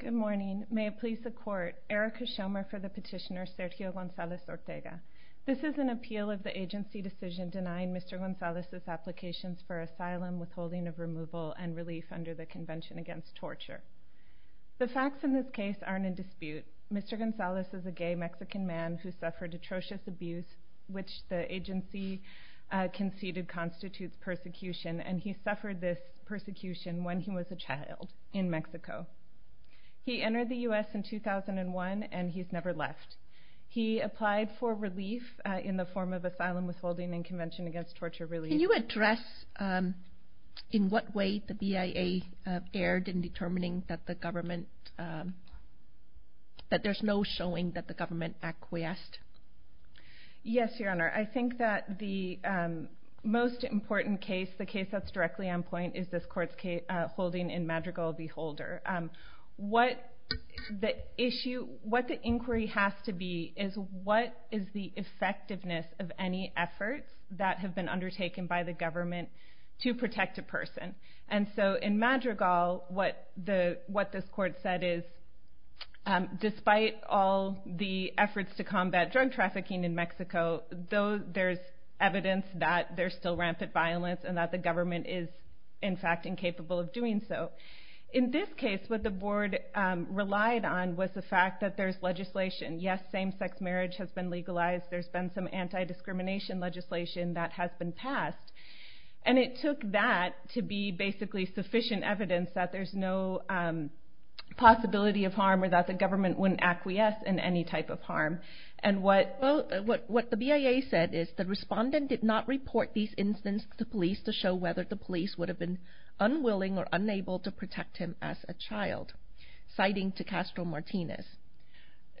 Good morning. May it please the Court, Erica Shomer for the petitioner Sergio Gonzalez-Ortega. This is an appeal of the agency decision denying Mr. Gonzalez's applications for asylum, withholding of removal, and relief under the Convention Against Torture. The facts in this case aren't in dispute. Mr. Gonzalez is a gay Mexican man who suffered atrocious abuse, which the agency conceded constitutes persecution, and he suffered this persecution when he was a child in Mexico. He entered the U.S. in 2001, and he's never left. He applied for relief in the form of asylum, withholding, and Convention Against Torture relief. Can you address in what way the BIA erred in determining that there's no showing that the government acquiesced? Yes, Your Honor. I think that the most important case, the case that's directly on point, is this Court's holding in Madrigal v. Holder. What the inquiry has to be is what is the effectiveness of any efforts that have been undertaken by the government to protect a person. In Madrigal, what this Court said is, despite all the efforts to combat drug trafficking in Mexico, there's evidence that there's still rampant violence, and that the government is, in fact, incapable of doing so. In this case, what the Board relied on was the fact that there's legislation. Yes, same-sex marriage has been legalized. There's been some anti-discrimination legislation that has been passed. And it took that to be basically sufficient evidence that there's no possibility of harm or that the government wouldn't acquiesce in any type of harm. And what the BIA said is, the respondent did not report these incidents to police to show whether the police would have been unwilling or unable to protect him as a child, citing to Castro Martinez.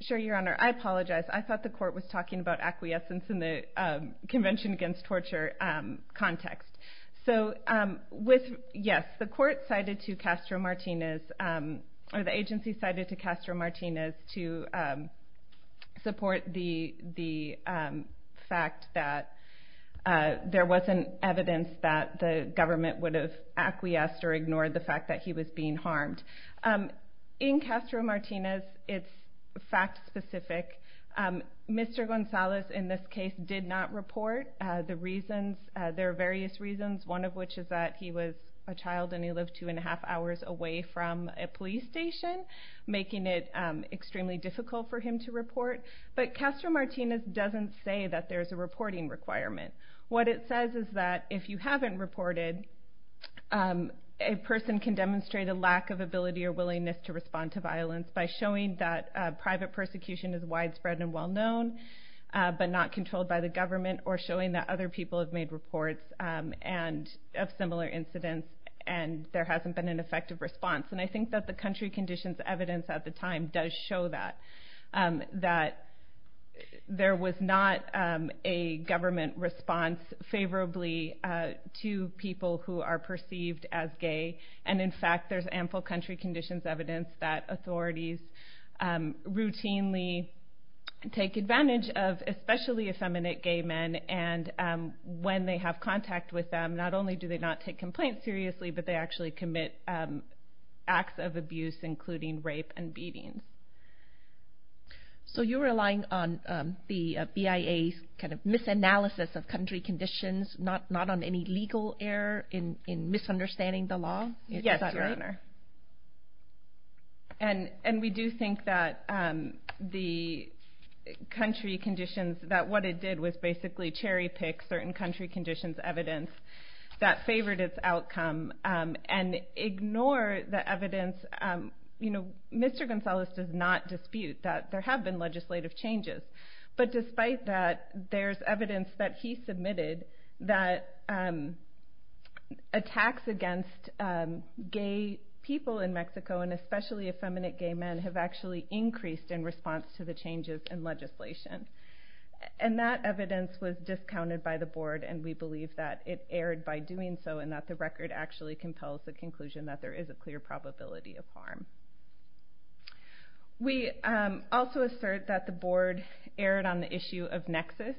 Sure, Your Honor. I apologize. I thought the Court was talking about acquiescence in the Convention Against Torture context. So, yes, the Court cited to Castro Martinez, or the agency cited to Castro Martinez, to support the fact that there wasn't evidence that the government would have acquiesced or ignored the fact that he was being harmed. In Castro Martinez, it's fact-specific. Mr. Gonzalez, in this case, did not report. There are various reasons, one of which is that he was a child and he lived two and a half hours away from a police station, making it extremely difficult for him to report. But Castro Martinez doesn't say that there's a reporting requirement. What it says is that if you haven't reported, a person can demonstrate a lack of ability or willingness to respond to violence by showing that private persecution is widespread and well-known, but not controlled by the government, or showing that other people have made reports of similar incidents and there hasn't been an effective response. And I think that the country conditions evidence at the time does show that, that there was not a government response favorably to people who are perceived as gay. And, in fact, there's ample country conditions evidence that authorities routinely take advantage of especially effeminate gay men. And when they have contact with them, not only do they not take complaints seriously, but they actually commit acts of abuse including rape and beating. So you're relying on the BIA's kind of misanalysis of country conditions, not on any legal error in misunderstanding the law? Yes, Your Honor. And we do think that the country conditions, that what it did was basically cherry-pick certain country conditions evidence that favored its outcome and ignore the evidence. Mr. Gonzalez does not dispute that there have been legislative changes, but despite that, there's evidence that he submitted that attacks against gay people in Mexico, and especially effeminate gay men, have actually increased in response to the changes in legislation. And that evidence was discounted by the board, and we believe that it erred by doing so and that the record actually compels the conclusion that there is a clear probability of harm. We also assert that the board erred on the issue of nexus.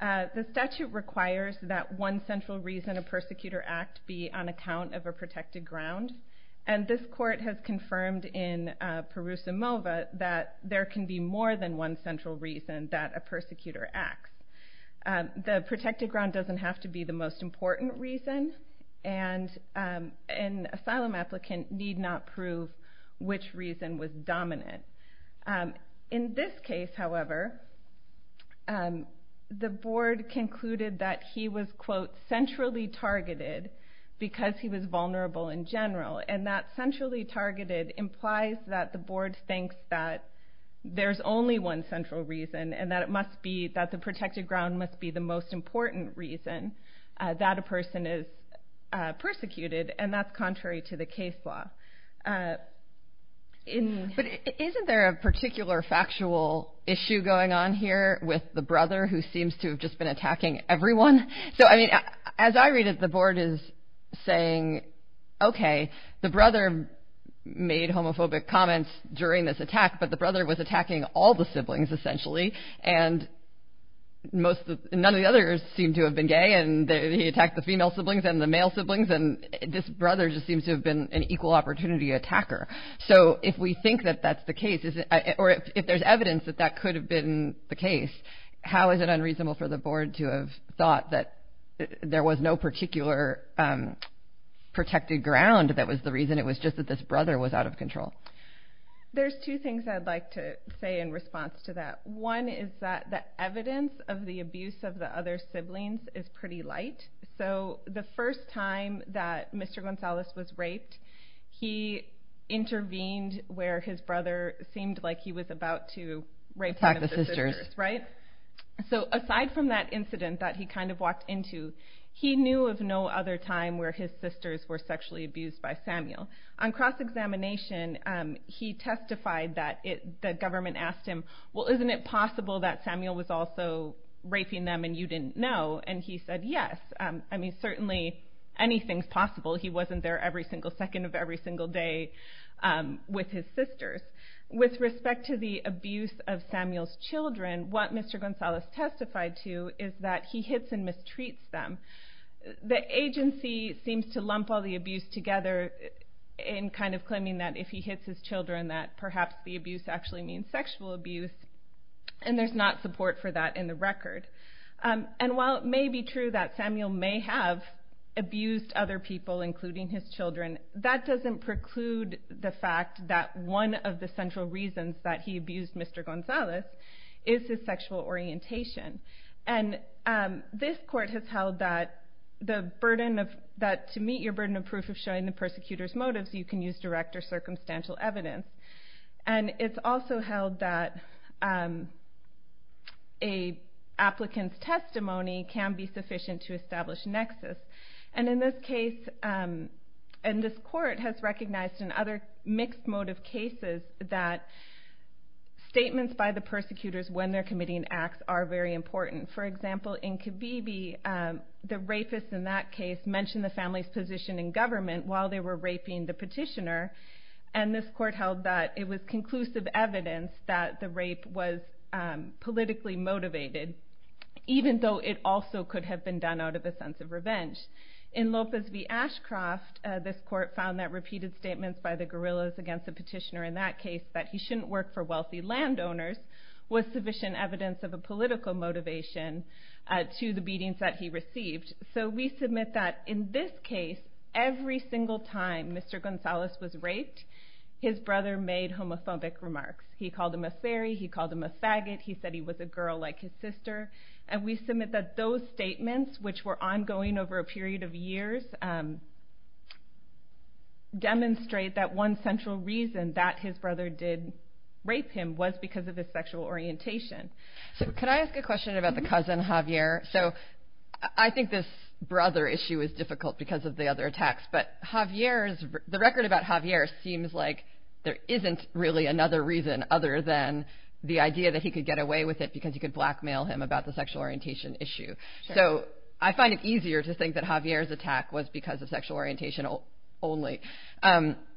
The statute requires that one central reason a persecutor act be on account of a protected ground. And this court has confirmed in Perusimova that there can be more than one central reason that a persecutor acts. The protected ground doesn't have to be the most important reason, and an asylum applicant need not prove which reason was dominant. In this case, however, the board concluded that he was, quote, centrally targeted because he was vulnerable in general. And that centrally targeted implies that the board thinks that there's only one central reason and that the protected ground must be the most important reason that a person is persecuted, and that's contrary to the case law. But isn't there a particular factual issue going on here with the brother who seems to have just been attacking everyone? So, I mean, as I read it, the board is saying, okay, the brother made homophobic comments during this attack, but the brother was attacking all the siblings, essentially. And none of the others seem to have been gay, and he attacked the female siblings and the male siblings, and this brother just seems to have been an equal opportunity attacker. So, if we think that that's the case, or if there's evidence that that could have been the case, how is it unreasonable for the board to have thought that there was no particular protected ground that was the reason? It was just that this brother was out of control. There's two things I'd like to say in response to that. One is that the evidence of the abuse of the other siblings is pretty light. So, the first time that Mr. Gonzalez was raped, he intervened where his brother seemed like he was about to rape one of the sisters. Attack the sisters. Right? So, aside from that incident that he kind of walked into, he knew of no other time where his sisters were sexually abused by Samuel. On cross-examination, he testified that the government asked him, well, isn't it possible that Samuel was also raping them and you didn't know? And he said, yes. I mean, certainly anything's possible. He wasn't there every single second of every single day with his sisters. With respect to the abuse of Samuel's children, what Mr. Gonzalez testified to is that he hits and mistreats them. The agency seems to lump all the abuse together in kind of claiming that if he hits his children, that perhaps the abuse actually means sexual abuse. And there's not support for that in the record. And while it may be true that Samuel may have abused other people, including his children, that doesn't preclude the fact that one of the central reasons that he abused Mr. Gonzalez is his sexual orientation. And this court has held that to meet your burden of proof of showing the persecutor's motives, you can use direct or circumstantial evidence. And it's also held that an applicant's testimony can be sufficient to establish nexus. And in this case, and this court has recognized in other mixed motive cases, that statements by the persecutors when they're committing acts are very important. For example, in Kibibi, the rapist in that case mentioned the family's position in government while they were raping the petitioner. And this court held that it was conclusive evidence that the rape was politically motivated, even though it also could have been done out of a sense of revenge. In Lopez v. Ashcroft, this court found that repeated statements by the guerrillas against the petitioner in that case, that he shouldn't work for wealthy landowners, was sufficient evidence of a political motivation to the beatings that he received. So we submit that in this case, every single time Mr. Gonzalez was raped, his brother made homophobic remarks. He called him a fairy, he called him a faggot, he said he was a girl like his sister. And we submit that those statements, which were ongoing over a period of years, demonstrate that one central reason that his brother did rape him was because of his sexual orientation. Can I ask a question about the cousin, Javier? I think this brother issue is difficult because of the other attacks, but the record about Javier seems like there isn't really another reason other than the idea that he could get away with it because you could blackmail him about the sexual orientation issue. So I find it easier to think that Javier's attack was because of sexual orientation only.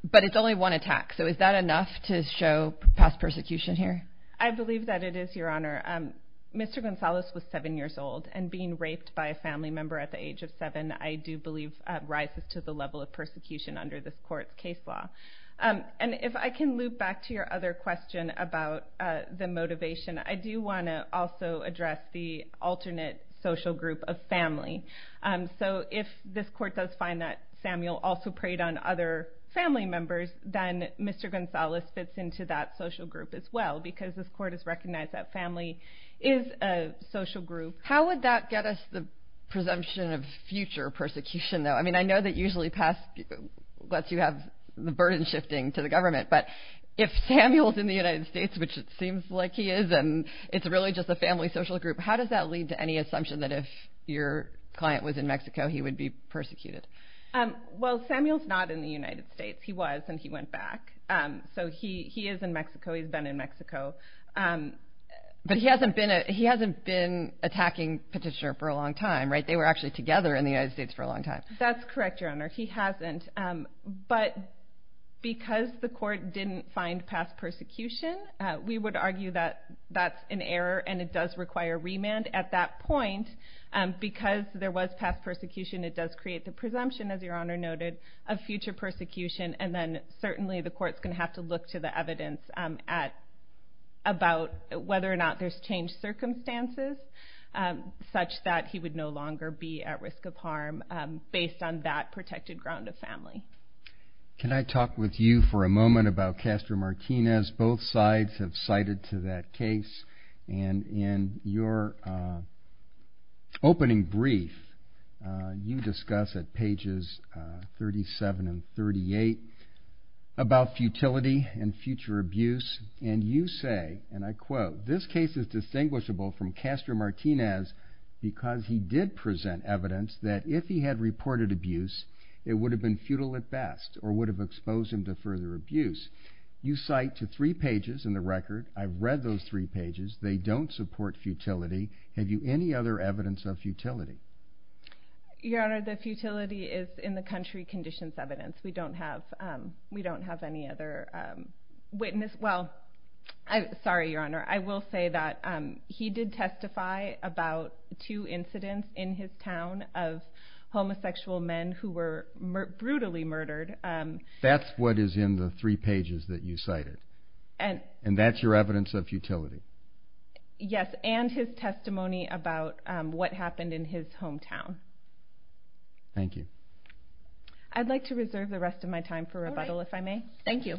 But it's only one attack, so is that enough to show past persecution here? I believe that it is, Your Honor. Mr. Gonzalez was seven years old, and being raped by a family member at the age of seven, I do believe rises to the level of persecution under this court's case law. And if I can loop back to your other question about the motivation, I do want to also address the alternate social group of family. So if this court does find that Samuel also preyed on other family members, then Mr. Gonzalez fits into that social group as well because this court has recognized that family is a social group. How would that get us the presumption of future persecution, though? I mean, I know that usually past lets you have the burden shifting to the government. But if Samuel's in the United States, which it seems like he is, and it's really just a family social group, how does that lead to any assumption that if your client was in Mexico, he would be persecuted? Well, Samuel's not in the United States. He was, and he went back. So he is in Mexico. He's been in Mexico. But he hasn't been attacking Petitioner for a long time, right? They were actually together in the United States for a long time. That's correct, Your Honor. He hasn't. But because the court didn't find past persecution, we would argue that that's an error and it does require remand at that point. Because there was past persecution, it does create the presumption, as Your Honor noted, of future persecution. And then certainly the court's going to have to look to the evidence about whether or not there's changed circumstances such that he would no longer be at risk of harm based on that protected ground of family. Can I talk with you for a moment about Castro Martinez? Both sides have cited to that case. And in your opening brief, you discuss at pages 37 and 38 about futility and future abuse. And you say, and I quote, This case is distinguishable from Castro Martinez because he did present evidence that if he had reported abuse, it would have been futile at best or would have exposed him to further abuse. You cite to three pages in the record. I've read those three pages. They don't support futility. Have you any other evidence of futility? Your Honor, the futility is in the country conditions evidence. We don't have any other witness. Well, sorry, Your Honor. I will say that he did testify about two incidents in his town of homosexual men who were brutally murdered. That's what is in the three pages that you cited? And that's your evidence of futility? Yes, and his testimony about what happened in his hometown. Thank you. I'd like to reserve the rest of my time for rebuttal, if I may. Thank you.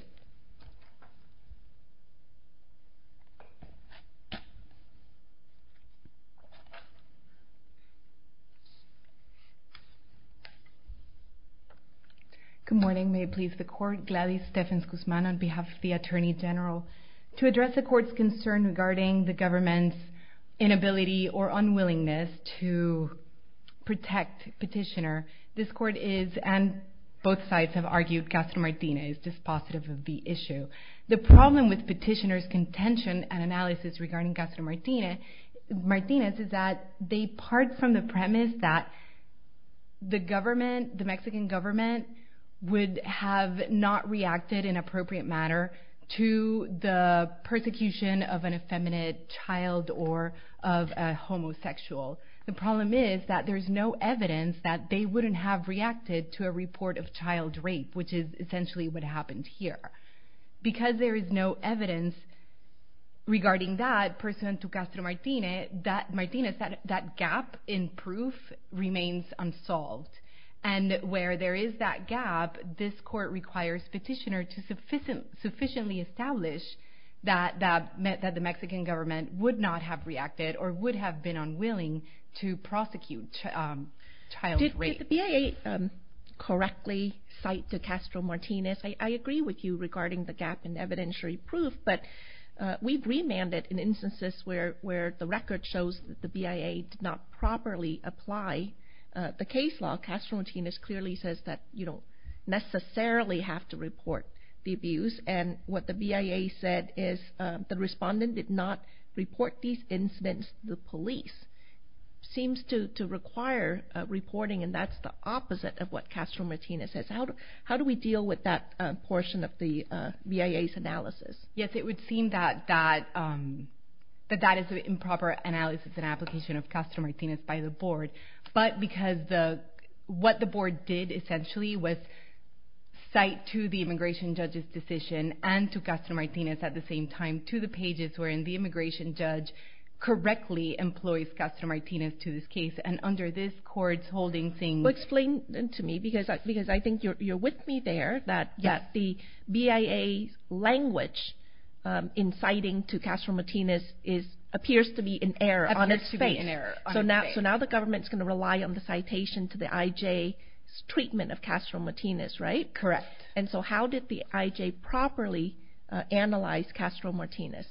Good morning. May it please the Court. Gladys Stephens-Guzman on behalf of the Attorney General. To address the Court's concern regarding the government's inability or unwillingness to protect Petitioner, this Court is, and both sides have argued, Castro-Martinez is dispositive of the issue. The problem with Petitioner's contention and analysis regarding Castro-Martinez is that they part from the premise that the Mexican government would have not reacted in an appropriate manner to the persecution of an effeminate child or of a homosexual. The problem is that there's no evidence that they wouldn't have reacted to a report of child rape, which is essentially what happened here. Because there is no evidence regarding that, pursuant to Castro-Martinez, that gap in proof remains unsolved. And where there is that gap, this Court requires Petitioner to sufficiently establish that the Mexican government would not have reacted or would have been unwilling to prosecute child rape. The BIA correctly cite to Castro-Martinez, I agree with you regarding the gap in evidentiary proof, but we've remanded in instances where the record shows that the BIA did not properly apply the case law. Castro-Martinez clearly says that you don't necessarily have to report the abuse, and what the BIA said is the respondent did not report these incidents to the police. It seems to require reporting, and that's the opposite of what Castro-Martinez says. How do we deal with that portion of the BIA's analysis? Yes, it would seem that that is an improper analysis and application of Castro-Martinez by the Board, but because what the Board did essentially was cite to the immigration judge's decision and to Castro-Martinez at the same time to the pages wherein the immigration judge correctly employs Castro-Martinez to this case, and under this Court's holding thing... Explain to me, because I think you're with me there, that the BIA's language inciting to Castro-Martinez appears to be in error. Appears to be in error. So now the government's going to rely on the citation to the IJ's treatment of Castro-Martinez, right? Correct. And so how did the IJ properly analyze Castro-Martinez?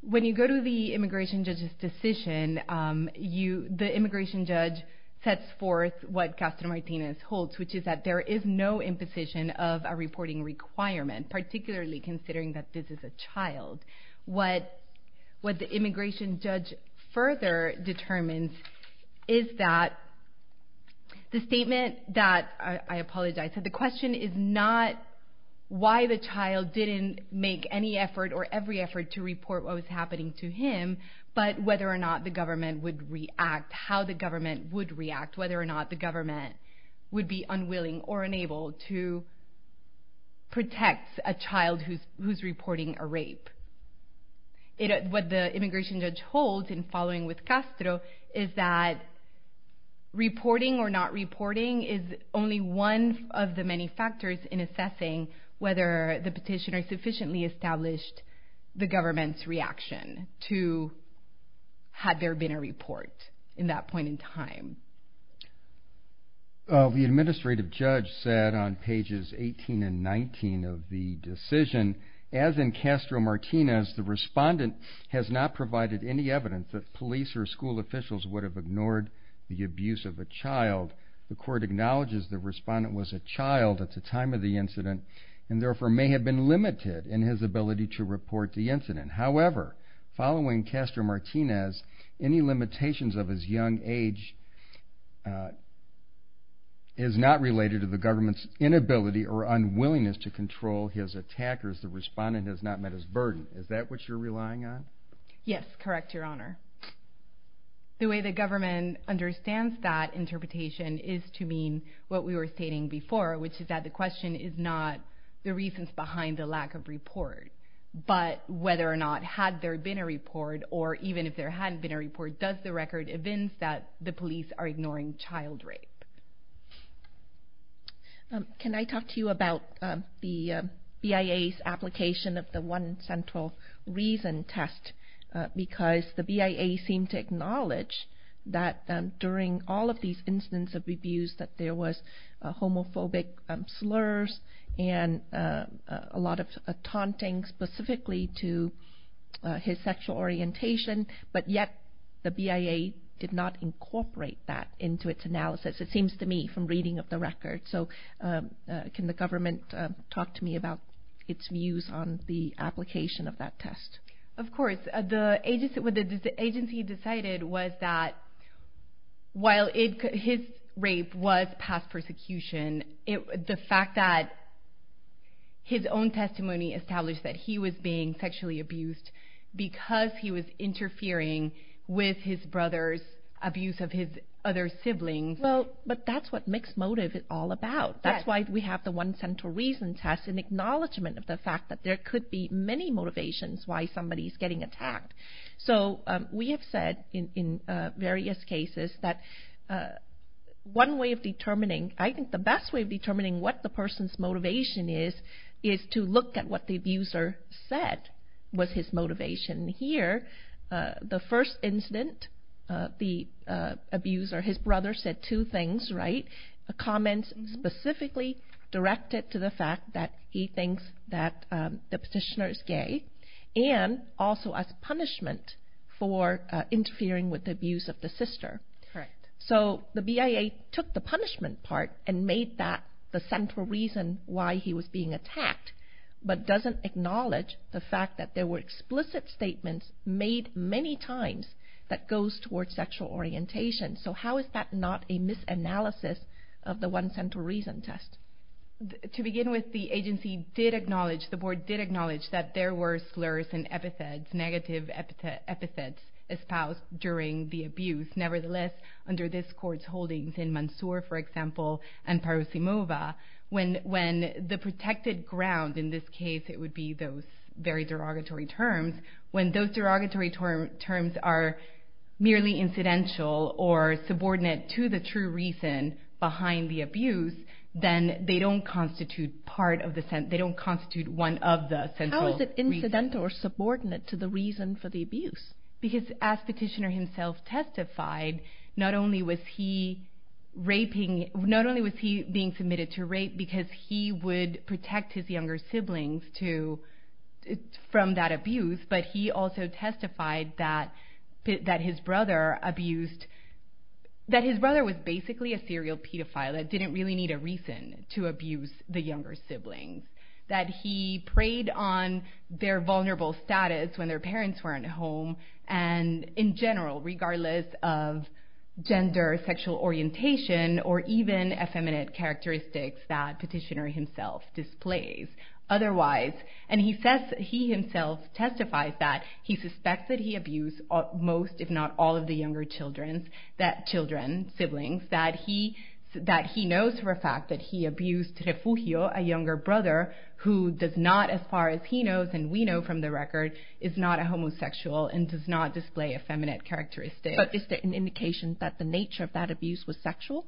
When you go to the immigration judge's decision, the immigration judge sets forth what Castro-Martinez holds, which is that there is no imposition of a reporting requirement, particularly considering that this is a child. What the immigration judge further determines is that the statement that... I apologize. So the question is not why the child didn't make any effort or every effort to report what was happening to him, but whether or not the government would react, how the government would react, whether or not the government would be unwilling or unable to protect a child who's reporting a rape. What the immigration judge holds in following with Castro is that reporting or not reporting is only one of the many factors in assessing whether the petitioner sufficiently established the government's reaction to had there been a report in that point in time. The administrative judge said on pages 18 and 19 of the decision, as in Castro-Martinez, the respondent has not provided any evidence that police or school officials would have ignored the abuse of a child. The court acknowledges the respondent was a child at the time of the incident and therefore may have been limited in his ability to report the incident. However, following Castro-Martinez, any limitations of his young age is not related to the government's inability or unwillingness to control his attackers. The respondent has not met his burden. Is that what you're relying on? Yes, correct, Your Honor. The way the government understands that interpretation is to mean what we were stating before, which is that the question is not the reasons behind the lack of report, but whether or not had there been a report or even if there hadn't been a report, does the record evince that the police are ignoring child rape? Can I talk to you about the BIA's application of the one central reason test? Because the BIA seemed to acknowledge that during all of these incidents of abuse that there was homophobic slurs and a lot of taunting specifically to his sexual orientation, but yet the BIA did not incorporate that into its analysis, it seems to me, from reading of the record. So can the government talk to me about its views on the application of that test? Of course. What the agency decided was that while his rape was past persecution, the fact that his own testimony established that he was being sexually abused because he was interfering with his brother's abuse of his other siblings. But that's what mixed motive is all about. That's why we have the one central reason test, an acknowledgment of the fact that there could be many motivations why somebody is getting attacked. So we have said in various cases that one way of determining, I think the best way of determining what the person's motivation is, is to look at what the abuser said was his motivation. Here, the first incident, the abuser, his brother said two things, right? Two comments specifically directed to the fact that he thinks that the petitioner is gay and also as punishment for interfering with the abuse of the sister. Correct. So the BIA took the punishment part and made that the central reason why he was being attacked, but doesn't acknowledge the fact that there were explicit statements made many times that goes towards sexual orientation. So how is that not a misanalysis of the one central reason test? To begin with, the agency did acknowledge, the board did acknowledge, that there were slurs and epithets, negative epithets espoused during the abuse. Nevertheless, under this court's holdings in Mansour, for example, and Parosimova, when the protected ground, in this case it would be those very derogatory terms, when those derogatory terms are merely incidental or subordinate to the true reason behind the abuse, then they don't constitute one of the central reasons. How is it incidental or subordinate to the reason for the abuse? Because as petitioner himself testified, not only was he being submitted to rape because he would protect his younger siblings from that abuse, but he also testified that his brother was basically a serial pedophile that didn't really need a reason to abuse the younger siblings, that he preyed on their vulnerable status when their parents weren't home, and in general, regardless of gender, sexual orientation, or even effeminate characteristics that petitioner himself displays. Otherwise, and he says, he himself testifies that he suspects that he abused most, if not all of the younger children, siblings, that he knows for a fact that he abused Refugio, a younger brother, who does not, as far as he knows and we know from the record, is not a homosexual and does not display effeminate characteristics. But is there an indication that the nature of that abuse was sexual?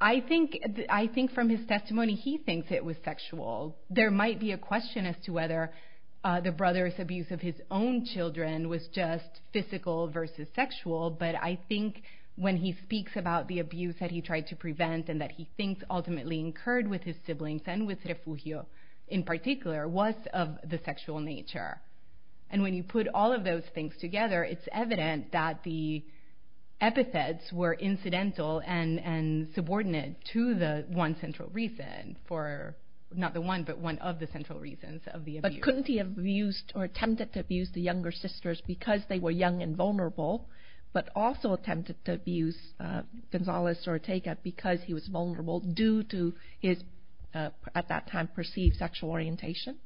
I think from his testimony, he thinks it was sexual. There might be a question as to whether the brother's abuse of his own children was just physical versus sexual, but I think when he speaks about the abuse that he tried to prevent and that he thinks ultimately occurred with his siblings and with Refugio in particular, was of the sexual nature. And when you put all of those things together, it's evident that the epithets were incidental and subordinate to the one central reason for, not the one, but one of the central reasons of the abuse. But couldn't he have abused or attempted to abuse the younger sisters because they were young and vulnerable, but also attempted to abuse Gonzales or Teca because he was vulnerable due to his, at that time, perceived sexual orientation?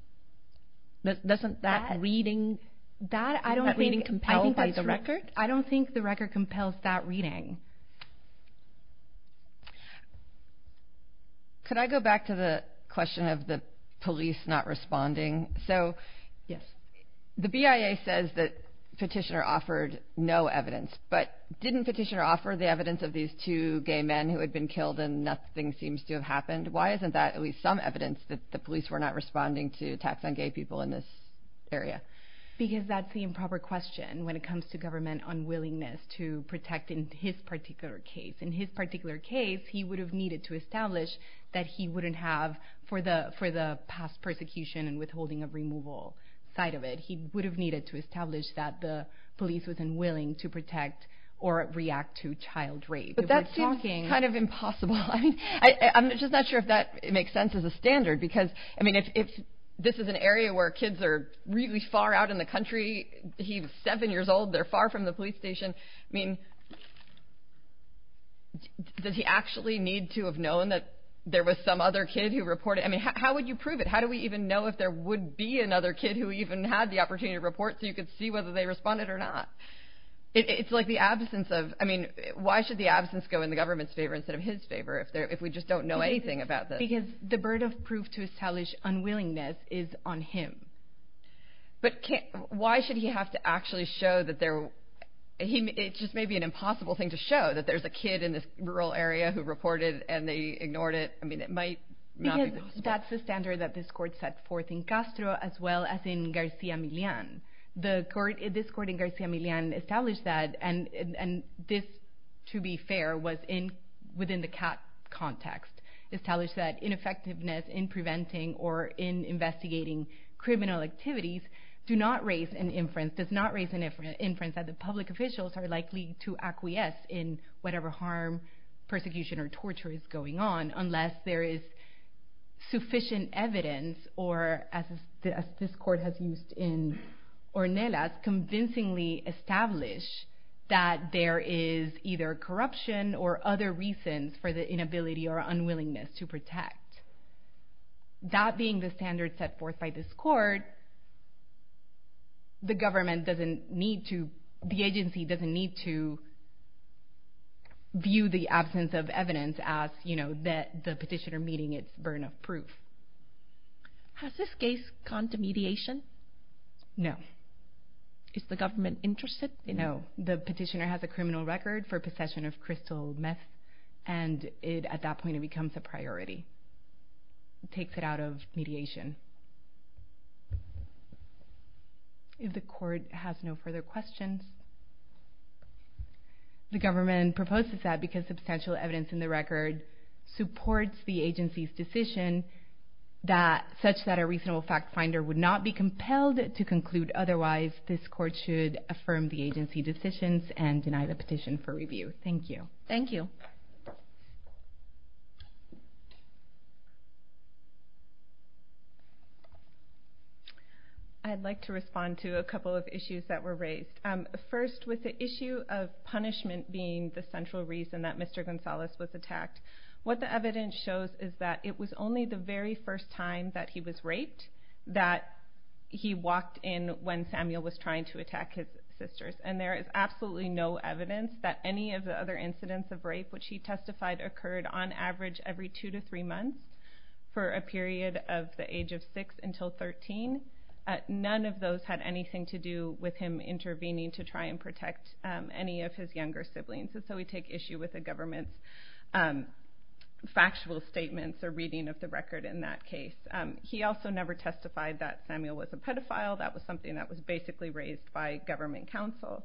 Doesn't that reading, does that reading compel the record? I don't think the record compels that reading. Could I go back to the question of the police not responding? So the BIA says that Petitioner offered no evidence, but didn't Petitioner offer the evidence of these two gay men who had been killed and nothing seems to have happened? Why isn't that at least some evidence that the police were not responding to attacks on gay people in this area? Because that's the improper question when it comes to government unwillingness to protect in his particular case. In his particular case, he would have needed to establish that he wouldn't have, for the past persecution and withholding of removal side of it, he would have needed to establish that the police was unwilling to protect or react to child rape. But that seems kind of impossible. I mean, I'm just not sure if that makes sense as a standard, because, I mean, if this is an area where kids are really far out in the country, he was seven years old, they're far from the police station, I mean, does he actually need to have known that there was some other kid who reported, I mean, how would you prove it? How do we even know if there would be another kid who even had the opportunity to report so you could see whether they responded or not? It's like the absence of, I mean, why should the absence go in the government's favor instead of his favor if we just don't know anything about this? Because the burden of proof to establish unwillingness is on him. But why should he have to actually show that there, it just may be an impossible thing to show that there's a kid in this rural area who reported and they ignored it. I mean, it might not be possible. Because that's the standard that this court set forth in Castro as well as in Garcia Millan. This court in Garcia Millan established that, and this, to be fair, was within the CAT context, established that ineffectiveness in preventing or in investigating criminal activities does not raise an inference that the public officials are likely to acquiesce in whatever harm, persecution, or torture is going on unless there is sufficient evidence, or as this court has used in Ornelas, has convincingly established that there is either corruption or other reasons for the inability or unwillingness to protect. That being the standard set forth by this court, the government doesn't need to, the agency doesn't need to view the absence of evidence as the petitioner meeting its burden of proof. Has this case gone to mediation? No. Is the government interested? No. The petitioner has a criminal record for possession of crystal meth, and at that point it becomes a priority. It takes it out of mediation. If the court has no further questions. The government proposes that because substantial evidence in the record supports the agency's decision such that a reasonable fact finder would not be compelled to conclude otherwise, this court should affirm the agency's decisions and deny the petition for review. Thank you. Thank you. I'd like to respond to a couple of issues that were raised. First, with the issue of punishment being the central reason that Mr. Gonzalez was attacked, what the evidence shows is that it was only the very first time that he was raped that he walked in when Samuel was trying to attack his sisters, and there is absolutely no evidence that any of the other incidents of rape which he testified occurred on average every two to three months for a period of the age of six until 13. None of those had anything to do with him intervening to try and protect any of his younger siblings, and so we take issue with the government's factual statements or reading of the record in that case. He also never testified that Samuel was a pedophile. That was something that was basically raised by government counsel.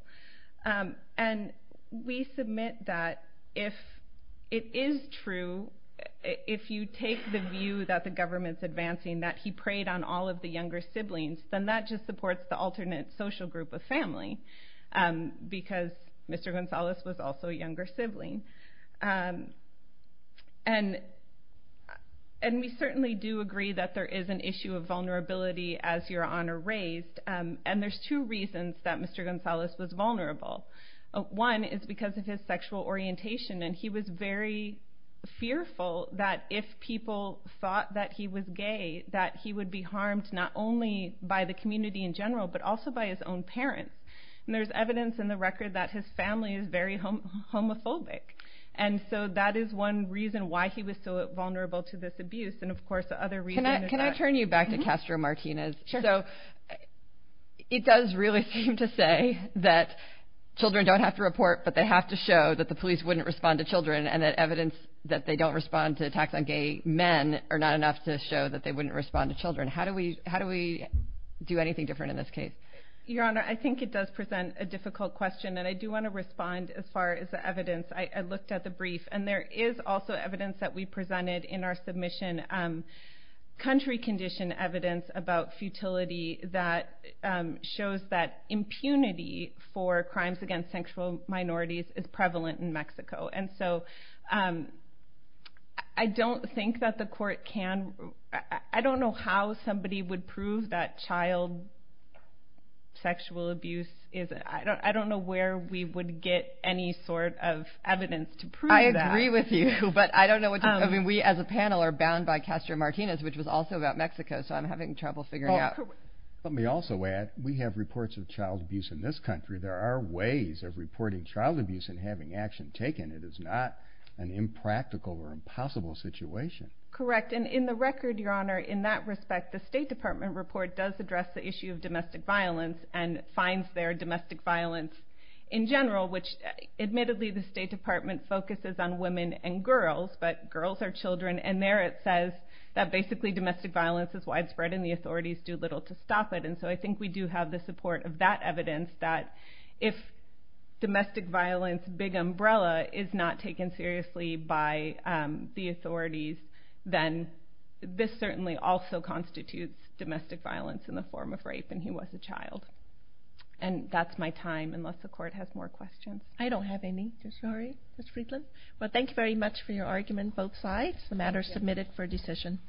And we submit that if it is true, if you take the view that the government's advancing that he preyed on all of the younger siblings, then that just supports the alternate social group of family because Mr. Gonzalez was also a younger sibling. And we certainly do agree that there is an issue of vulnerability as your Honor raised, and there's two reasons that Mr. Gonzalez was vulnerable. One is because of his sexual orientation, and he was very fearful that if people thought that he was gay that he would be harmed not only by the community in general but also by his own parents. And there's evidence in the record that his family is very homophobic, and so that is one reason why he was so vulnerable to this abuse, and of course the other reason is that... Can I turn you back to Castro Martinez? Sure. So it does really seem to say that children don't have to report, but they have to show that the police wouldn't respond to children and that evidence that they don't respond to attacks on gay men are not enough to show that they wouldn't respond to children. How do we do anything different in this case? Your Honor, I think it does present a difficult question, and I do want to respond as far as the evidence. I looked at the brief, and there is also evidence that we presented in our submission, country condition evidence about futility that shows that impunity for crimes against sexual minorities is prevalent in Mexico. And so I don't think that the court can... I don't know how somebody would prove that child sexual abuse is... I don't know where we would get any sort of evidence to prove that. I agree with you, but I don't know what you're... I mean, we as a panel are bound by Castro Martinez, which was also about Mexico, so I'm having trouble figuring out... Let me also add, we have reports of child abuse in this country. There are ways of reporting child abuse and having action taken. It is not an impractical or impossible situation. Correct. And in the record, Your Honor, in that respect, the State Department report does address the issue of domestic violence and finds there domestic violence in general, which admittedly the State Department focuses on women and girls, but girls are children, and there it says that basically domestic violence is widespread and the authorities do little to stop it. And so I think we do have the support of that evidence that if domestic violence, big umbrella, is not taken seriously by the authorities, then this certainly also constitutes domestic violence in the form of rape when he was a child. And that's my time, unless the Court has more questions. I don't have any, I'm sorry, Ms. Friedland. Well, thank you very much for your argument, both sides. The matter is submitted for decision.